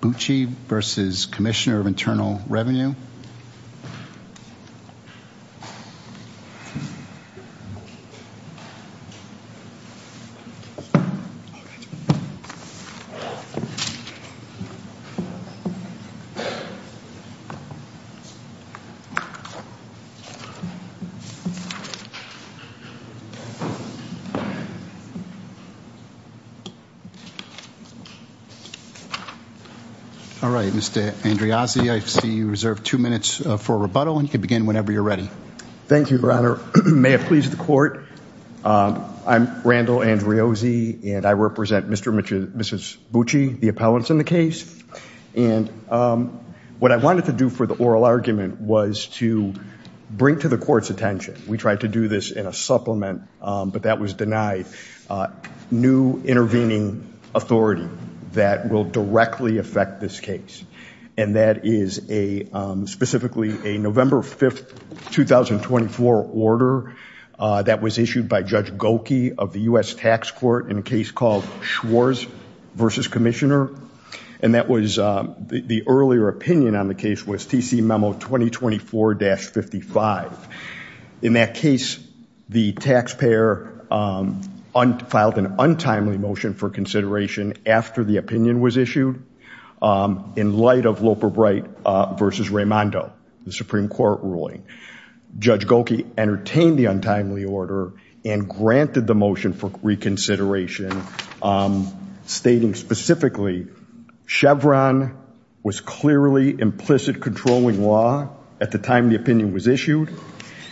Bucci v. Commissioner of Internal Revenue Mr. Andreozzi, I see you reserve two minutes for rebuttal and you can begin whenever you're ready. Thank you, Your Honor. May it please the Court, I'm Randall Andreozzi and I represent Mr. and Mrs. Bucci, the appellants in the case. And what I wanted to do for the oral argument was to bring to the Court's attention, we tried to do this in a supplement, but that was denied, new intervening authority that will directly affect this case. And that is a specifically a November 5th, 2024 order that was issued by Judge Gokey of the U.S. Tax Court in a case called Schwarz v. Commissioner. And that was the earlier opinion on the case was TC Memo 2024-55. In that case, the taxpayer filed an untimely motion for consideration after the opinion was issued in light of Loper Bright v. Raimondo, the Supreme Court ruling. Judge Gokey entertained the untimely order and granted the motion for reconsideration stating specifically, Chevron was clearly implicit controlling law at the time the opinion was issued.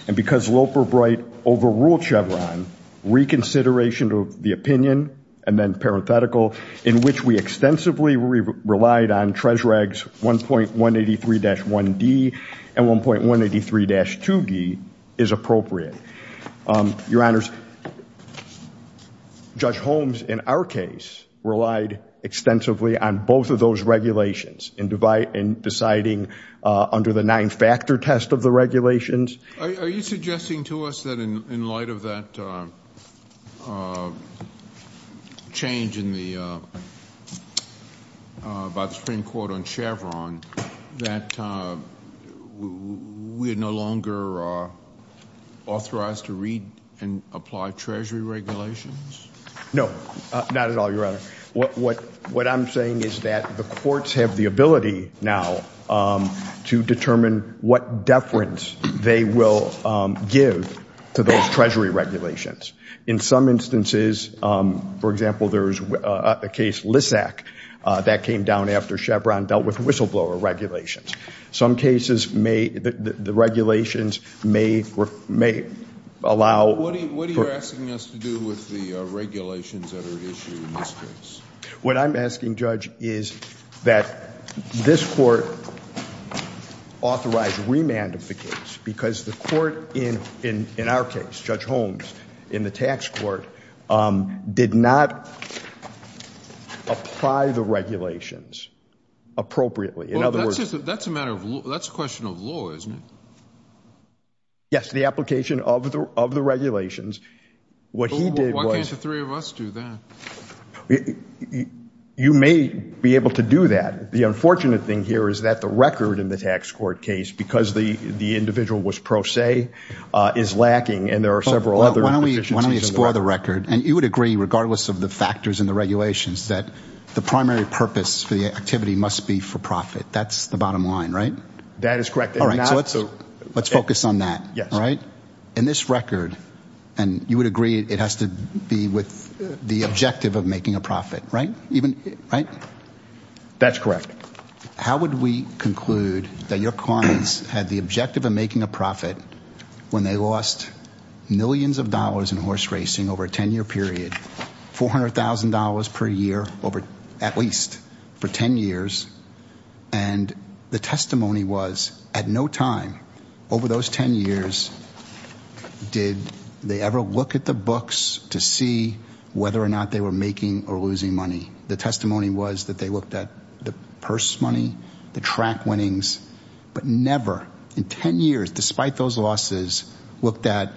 And because Loper Bright overruled Chevron, reconsideration of the opinion, and then parenthetical, in which we extensively relied on TRES-REG 1.183-1D and 1.183-2D is appropriate. Your Honors, Judge Holmes in our case relied extensively on both of those regulations in deciding under the nine-factor test of the regulations. Are you suggesting to us that in light of that change in the Supreme Court on Chevron, that we're no longer authorized to read and apply TRES-REG regulations? No, not at all, Your Honor. What I'm saying is that the courts have the ability now to determine what deference they will give to those TRES-REG regulations. In some instances, for example, there's a case, LISAC, that came down after Chevron dealt with whistleblower regulations. Some cases, the regulations may allow... What are you asking us to do with the regulations that are at issue in this case? What I'm asking, Judge, is that this Court authorize remand of the case, because the Court in our case, Judge Holmes, in the tax court, did not apply the regulations appropriately. That's a question of law, isn't it? Yes, the application of the regulations. Why can't the three of us do that? You may be able to do that. The unfortunate thing here is that the record in the tax court case, because the individual was pro se, is lacking, and there are several other deficiencies in the record. You would agree, regardless of the factors in the regulations, that the primary purpose for the activity must be for profit. That's the bottom line, right? That is correct. Let's focus on that. In this record, you would agree it has to be with the objective of making a profit, right? That's correct. How would we conclude that your clients had the objective of making a profit when they lost millions of dollars in horse racing over a 10-year period, $400,000 per year, at least, for 10 years, and the testimony was, at no time over those 10 years did they ever look at the books to see whether or not they were making or losing money. The testimony was that they looked at the purse money, the track winnings, but never in 10 years, despite those losses, looked at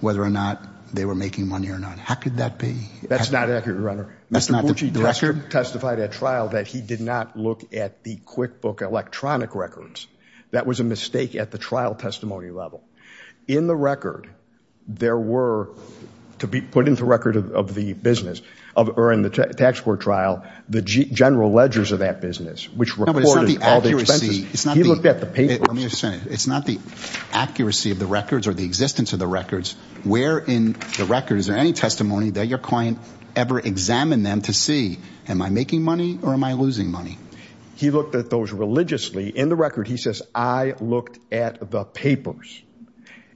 whether or not they were making money or not. How could that be? That's not accurate, Your Honor. Mr. Bucci, the record testified at trial that he did not look at the QuickBook electronic records. That was a mistake at the trial testimony level. In the record, there were, to be put into record of the business, or in the tax court trial, the general ledgers of that business, which recorded all the expenses. He looked at the papers. Let me explain. It's not the accuracy of the records or the existence of the records. Where in the records, in any testimony, did your client ever examine them to see, am I making money or am I losing money? He looked at those religiously. In the record, he says, I looked at the papers.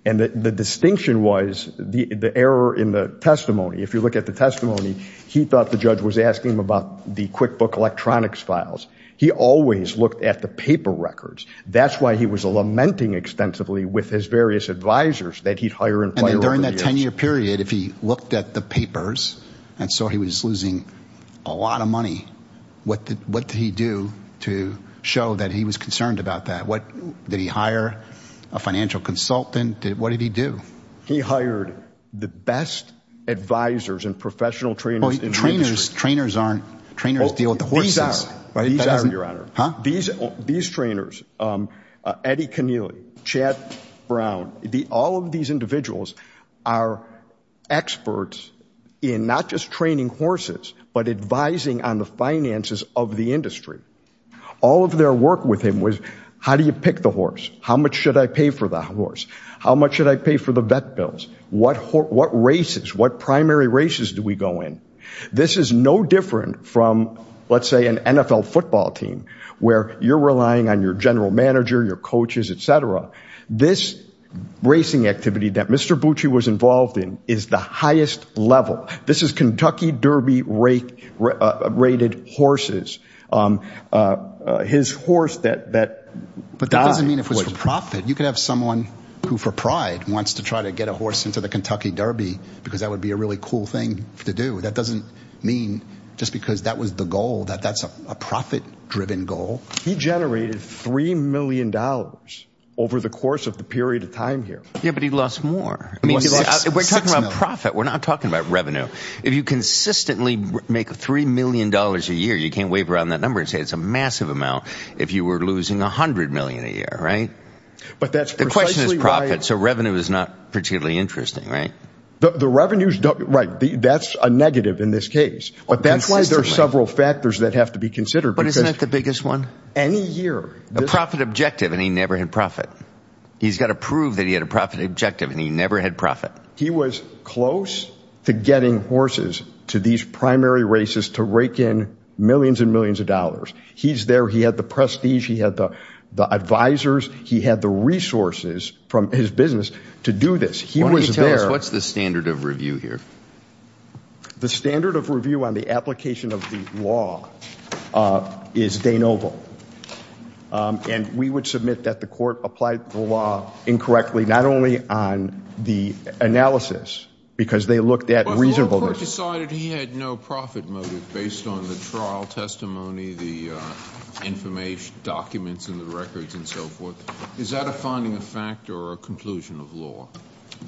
And the distinction was the error in the testimony. If you look at the testimony, he thought the judge was asking him about the QuickBook electronics files. He always looked at the paper records. That's why he was lamenting extensively with his various advisors that he'd hire and fire over the years. If he looked at the papers and saw he was losing a lot of money, what did he do to show that he was concerned about that? Did he hire a financial consultant? What did he do? He hired the best advisors and professional trainers in the industry. Trainers deal with the horses. These trainers, Eddie Keneally, Chad Brown, all of these individuals are experts in not just training horses, but advising on the finances of the industry. All of their work with him was, how do you pick the horse? How much should I pay for the horse? How much should I pay for the vet bills? What races, what primary races do we go in? This is no different from, let's say, an NFL football team where you're relying on your general manager, your coaches, et cetera. This racing activity that Mr. Bucci was involved in is the highest level. This is Kentucky Derby rated horses. His horse that died. But that doesn't mean it was for profit. You could have someone who for pride wants to try to get a horse into the Kentucky Derby because that would be a really cool thing to do. That doesn't mean just because that was the goal that that's a profit-driven goal. He generated $3 million over the course of the period of time here. Yeah, but he lost more. We're talking about profit. We're not talking about revenue. If you consistently make $3 million a year, you can't wave around that number and say it's a massive amount if you were losing $100 million a year, right? The question is profit, so revenue is not particularly interesting, right? The revenues, right, that's a negative in this case. But that's why there are several factors that have to be considered. But isn't that the biggest one? Any year. A profit objective and he never had profit. He's got to prove that he had a profit objective and he never had profit. He was close to getting horses to these primary races to rake in millions and millions of dollars. He's there. He had the prestige. He had the advisers. He had the resources from his business to do this. He was there. What's the standard of review here? The standard of review on the application of the law is de novo. And we would submit that the court applied the law incorrectly not only on the analysis because they looked at reasonableness. The court decided he had no profit motive based on the trial testimony, the information, documents, and the records and so forth. Is that a finding of fact or a conclusion of law?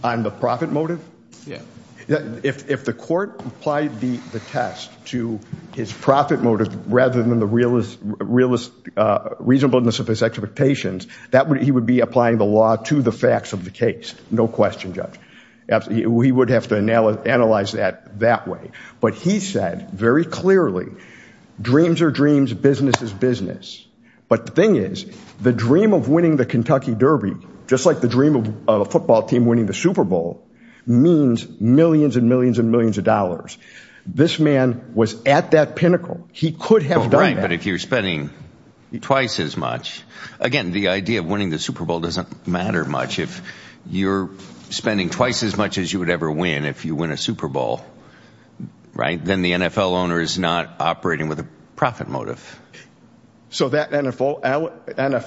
On the profit motive? Yeah. If the court applied the test to his profit motive rather than the reasonableness of his expectations, he would be applying the law to the facts of the case. No question, Judge. We would have to analyze that that way. But he said very clearly dreams are dreams, business is business. But the thing is the dream of winning the Kentucky Derby, just like the dream of a football team winning the Super Bowl, means millions and millions and millions of dollars. This man was at that pinnacle. He could have done that. Right, but if you're spending twice as much, again, the idea of winning the Super Bowl doesn't matter much. If you're spending twice as much as you would ever win if you win a Super Bowl, right, then the NFL owner is not operating with a profit motive. So that NFL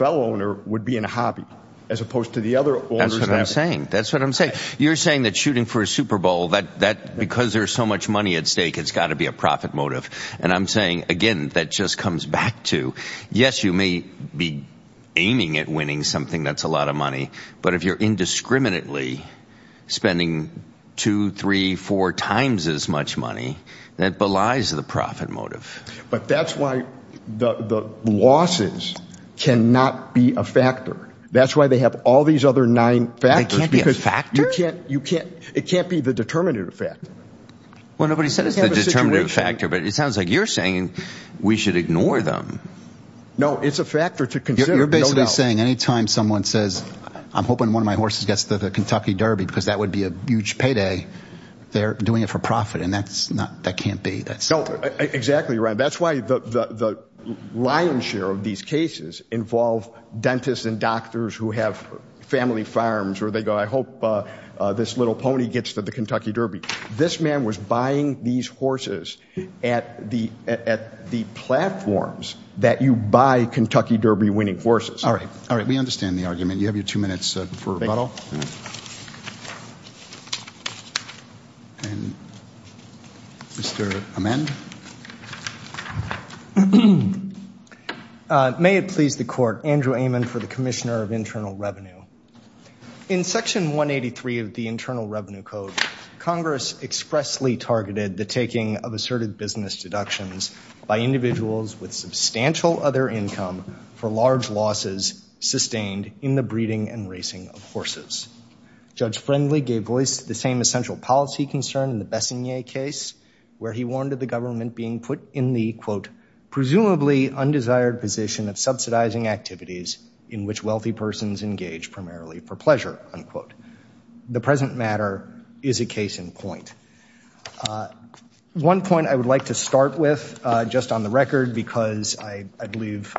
owner would be in a hobby as opposed to the other owners. That's what I'm saying. That's what I'm saying. You're saying that shooting for a Super Bowl, that because there's so much money at stake, it's got to be a profit motive. And I'm saying, again, that just comes back to, yes, you may be aiming at winning something that's a lot of money. But if you're indiscriminately spending two, three, four times as much money, that belies the profit motive. But that's why the losses cannot be a factor. That's why they have all these other nine factors. They can't be a factor? It can't be the determinative factor. Well, nobody said it's the determinative factor, but it sounds like you're saying we should ignore them. No, it's a factor to consider. You're basically saying any time someone says, I'm hoping one of my horses gets to the Kentucky Derby because that would be a huge payday, they're doing it for profit. And that can't be. Exactly right. That's why the lion's share of these cases involve dentists and doctors who have family farms where they go, I hope this little pony gets to the Kentucky Derby. This man was buying these horses at the platforms that you buy Kentucky Derby winning horses. All right. We understand the argument. You have your two minutes for rebuttal. And Mr. Amend. May it please the court. Andrew Amen for the Commissioner of Internal Revenue. In Section 183 of the Internal Revenue Code, Congress expressly targeted the taking of asserted business deductions by individuals with substantial other income for large losses sustained in the breeding and racing of horses. Judge Friendly gave voice to the same essential policy concern in the Bessonnier case, where he warned of the government being put in the, quote, presumably undesired position of subsidizing activities in which wealthy persons engage primarily for pleasure, unquote. The present matter is a case in point. One point I would like to start with, just on the record, because I believe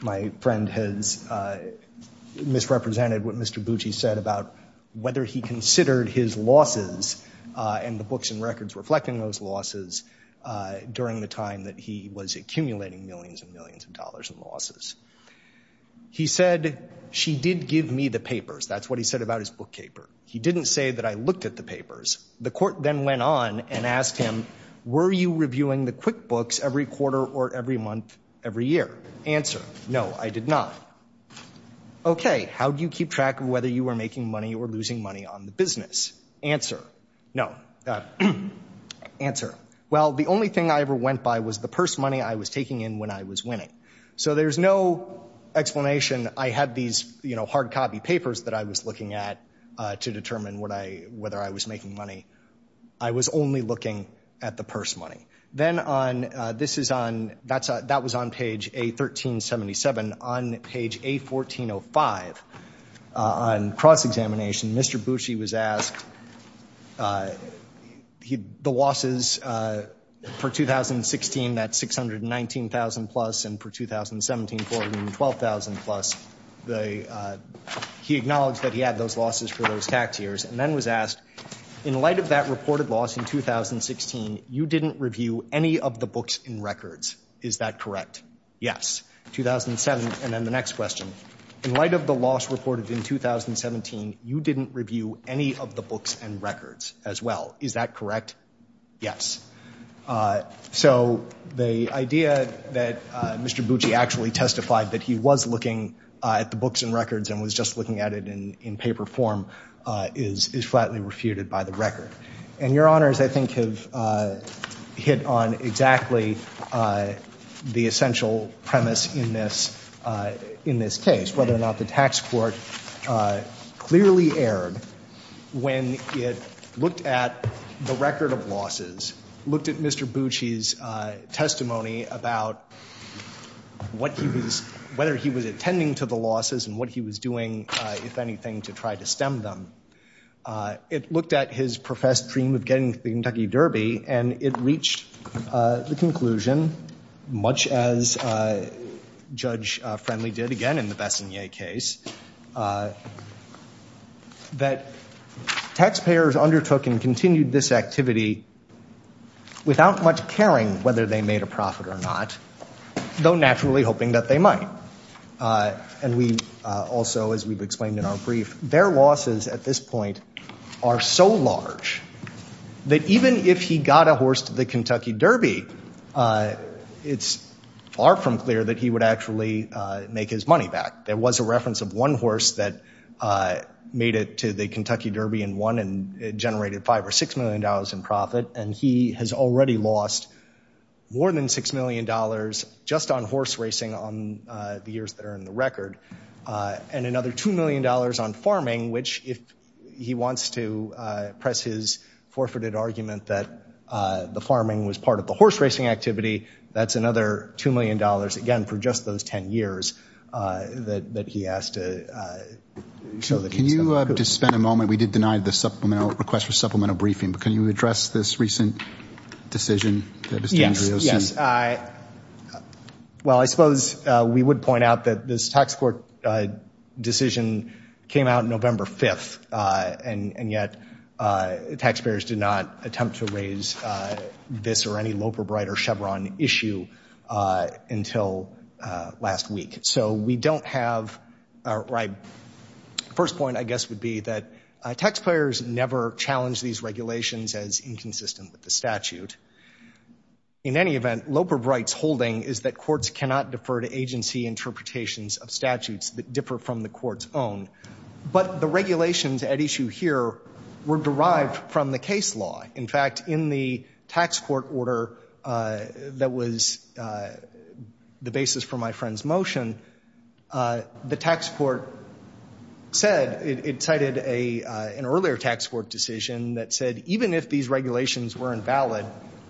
my friend has misrepresented what Mr. Bucci said about whether he considered his losses and the books and records reflecting those losses during the time that he was accumulating millions and millions of dollars in losses. He said, she did give me the papers. That's what he said about his bookkeeper. He didn't say that I looked at the papers. The court then went on and asked him, were you reviewing the QuickBooks every quarter or every month, every year? Answer, no, I did not. Okay, how do you keep track of whether you were making money or losing money on the business? Answer, no. Answer, well, the only thing I ever went by was the purse money I was taking in when I was winning. So there's no explanation. I had these, you know, hard copy papers that I was looking at to determine whether I was making money. I was only looking at the purse money. Then on, this is on, that was on page A1377. On page A1405, on cross-examination, Mr. Bucci was asked the losses for 2016, that $619,000 plus, and for 2017, $412,000 plus. He acknowledged that he had those losses for those tax years and then was asked, in light of that reported loss in 2016, you didn't review any of the books and records. Is that correct? Yes. In 2007, and then the next question, in light of the loss reported in 2017, you didn't review any of the books and records as well. Is that correct? Yes. So the idea that Mr. Bucci actually testified that he was looking at the books and records and was just looking at it in paper form is flatly refuted by the record. And your honors, I think, have hit on exactly the essential premise in this case, whether or not the tax court clearly erred when it looked at the record of losses, looked at Mr. Bucci's testimony about what he was, whether he was attending to the losses and what he was doing, if anything, to try to stem them. It looked at his professed dream of getting the Kentucky Derby, and it reached the conclusion, much as Judge Friendly did again in the Bessonnier case, that taxpayers undertook and continued this activity without much caring whether they made a profit or not, though naturally hoping that they might. And we also, as we've explained in our brief, their losses at this point are so large that even if he got a horse to the Kentucky Derby, it's far from clear that he would actually make his money back. There was a reference of one horse that made it to the Kentucky Derby and won and generated $5 or $6 million in profit. And he has already lost more than $6 million just on horse racing on the years that are in the record and another $2 million on farming, which if he wants to press his forfeited argument that the farming was part of the horse racing activity, that's another $2 million, again, for just those 10 years that he has to show that he's going to prove. Can you just spend a moment? We did deny the supplemental request for supplemental briefing, but can you address this recent decision that Mr. Andreozzi? Yes, yes. Well, I suppose we would point out that this tax court decision came out November 5th, and yet taxpayers did not attempt to raise this or any Loper-Bright or Chevron issue until last week. So we don't have – first point, I guess, would be that taxpayers never challenge these regulations as inconsistent with the statute. In any event, Loper-Bright's holding is that courts cannot defer to agency interpretations of statutes that differ from the court's own. But the regulations at issue here were derived from the case law. In fact, in the tax court order that was the basis for my friend's motion, the tax court said –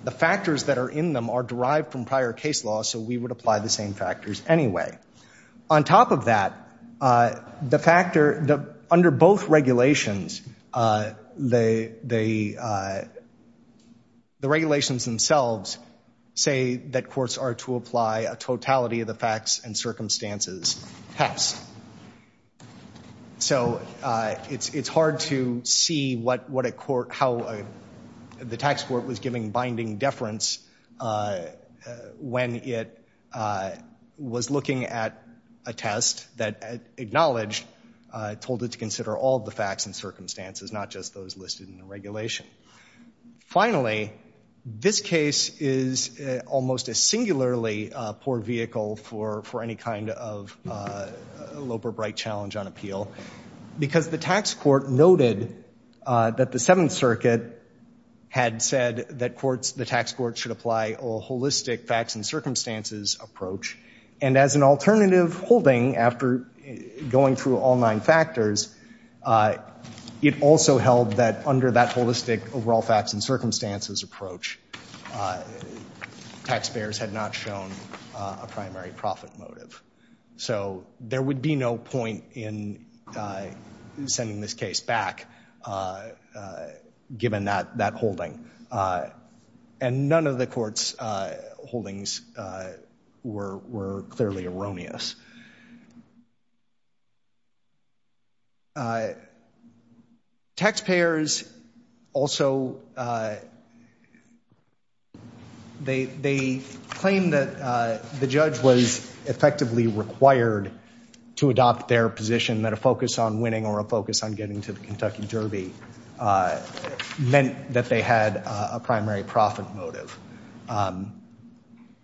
the factors that are in them are derived from prior case law, so we would apply the same factors anyway. On top of that, under both regulations, the regulations themselves say that courts are to apply a totality of the facts and circumstances test. So it's hard to see what a court – how the tax court was giving binding deference when it was looking at a test that acknowledged – told it to consider all the facts and circumstances, not just those listed in the regulation. Finally, this case is almost a singularly poor vehicle for any kind of Loper-Bright challenge on appeal, because the tax court noted that the Seventh Circuit had said that courts – the tax court should apply a holistic facts and circumstances approach. And as an alternative holding, after going through all nine factors, it also held that under that holistic overall facts and circumstances approach, taxpayers had not shown a primary profit motive. So there would be no point in sending this case back, given that holding. And none of the court's holdings were clearly erroneous. Taxpayers also – they claimed that the judge was effectively required to adopt their position, that a focus on winning or a focus on getting to the Kentucky Derby meant that they had a primary profit motive.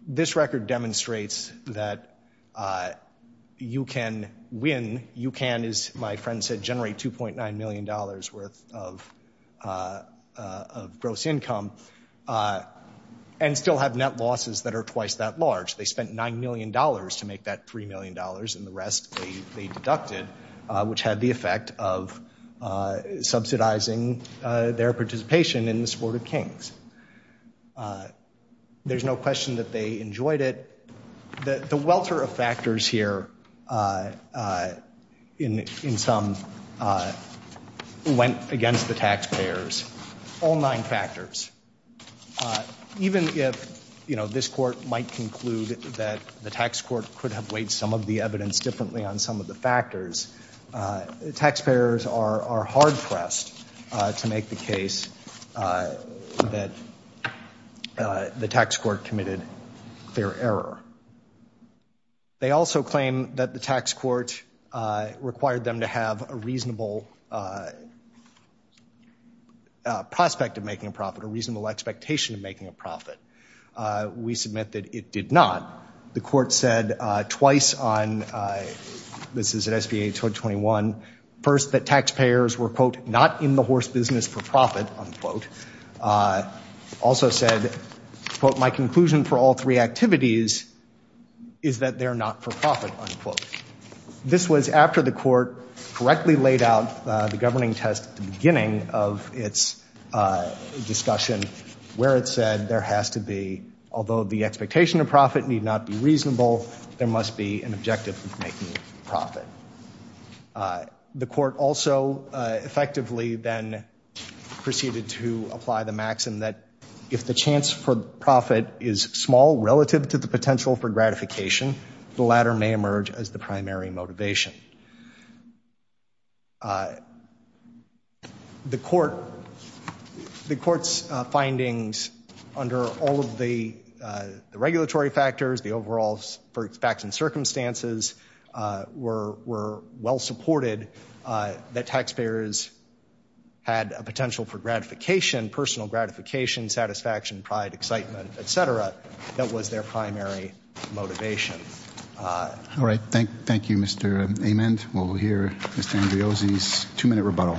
This record demonstrates that you can win – you can, as my friend said, generate $2.9 million worth of gross income and still have net losses that are twice that large. They spent $9 million to make that $3 million, and the rest they deducted, which had the effect of subsidizing their participation in the Sport of Kings. There's no question that they enjoyed it. The welter of factors here, in sum, went against the taxpayers, all nine factors. Even if, you know, this court might conclude that the tax court could have weighed some of the evidence differently on some of the factors, taxpayers are hard-pressed to make the case that the tax court committed their error. They also claim that the tax court required them to have a reasonable prospect of making a profit, a reasonable expectation of making a profit. We submit that it did not. The court said twice on – this is at SB 821 – first, that taxpayers were, quote, not in the horse business for profit, unquote. Also said, quote, This was after the court correctly laid out the governing test at the beginning of its discussion, where it said there has to be – although the expectation of profit need not be reasonable, there must be an objective of making profit. The court also effectively then proceeded to apply the maxim that if the chance for profit is small relative to the potential for gratification, the latter may emerge as the primary motivation. The court's findings under all of the regulatory factors, the overall facts and circumstances, were well supported that taxpayers had a potential for gratification, personal gratification, satisfaction, pride, excitement, et cetera, that was their primary motivation. All right, thank you, Mr. Amend. We'll hear Mr. Andreozzi's two-minute rebuttal.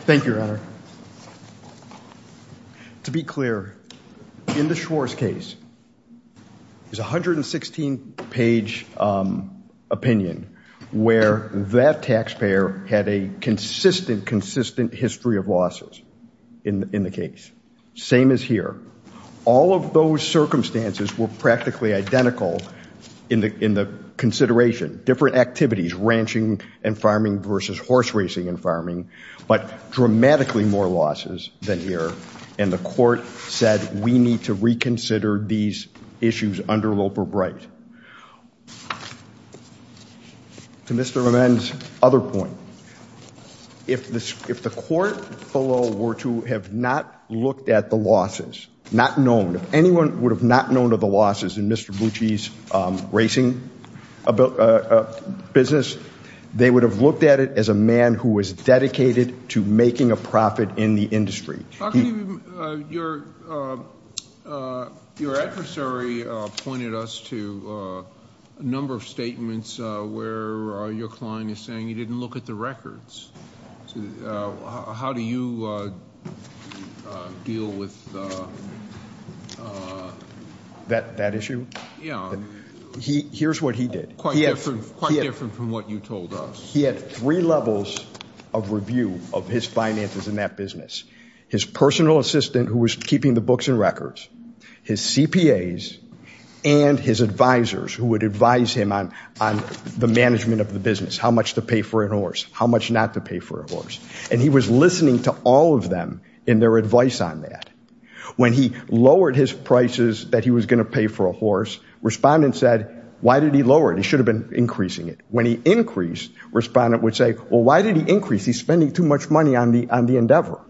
Thank you, Your Honor. To be clear, in the Schwarz case, there's a 116-page opinion where that taxpayer had a consistent, consistent history of losses in the case. Same as here. All of those circumstances were practically identical in the consideration. Different activities, ranching and farming versus horse racing and farming, but dramatically more losses than here. And the court said we need to reconsider these issues under Loper-Bright. To Mr. Amend's other point, if the court below were to have not looked at the losses, not known, if anyone would have not known of the losses in Mr. Bucci's racing business, they would have looked at it as a man who was dedicated to making a profit in the industry. Your adversary pointed us to a number of statements where your client is saying he didn't look at the records. How do you deal with that? That issue? Yeah. Here's what he did. Quite different from what you told us. He had three levels of review of his finances in that business. His personal assistant, who was keeping the books and records, his CPAs, and his advisors, who would advise him on the management of the business, how much to pay for a horse, how much not to pay for a horse. And he was listening to all of them in their advice on that. When he lowered his prices that he was going to pay for a horse, respondents said, why did he lower it? He should have been increasing it. When he increased, respondents would say, well, why did he increase? He's spending too much money on the endeavor.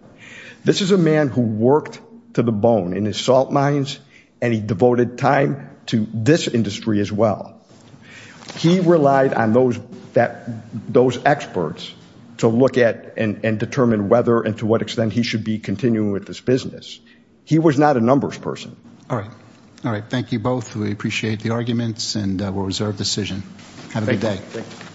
This is a man who worked to the bone in his salt mines, and he devoted time to this industry as well. He relied on those experts to look at and determine whether and to what extent he should be continuing with this business. He was not a numbers person. All right. All right. Thank you both. We appreciate the arguments, and we'll reserve decision. Have a good day. Thanks.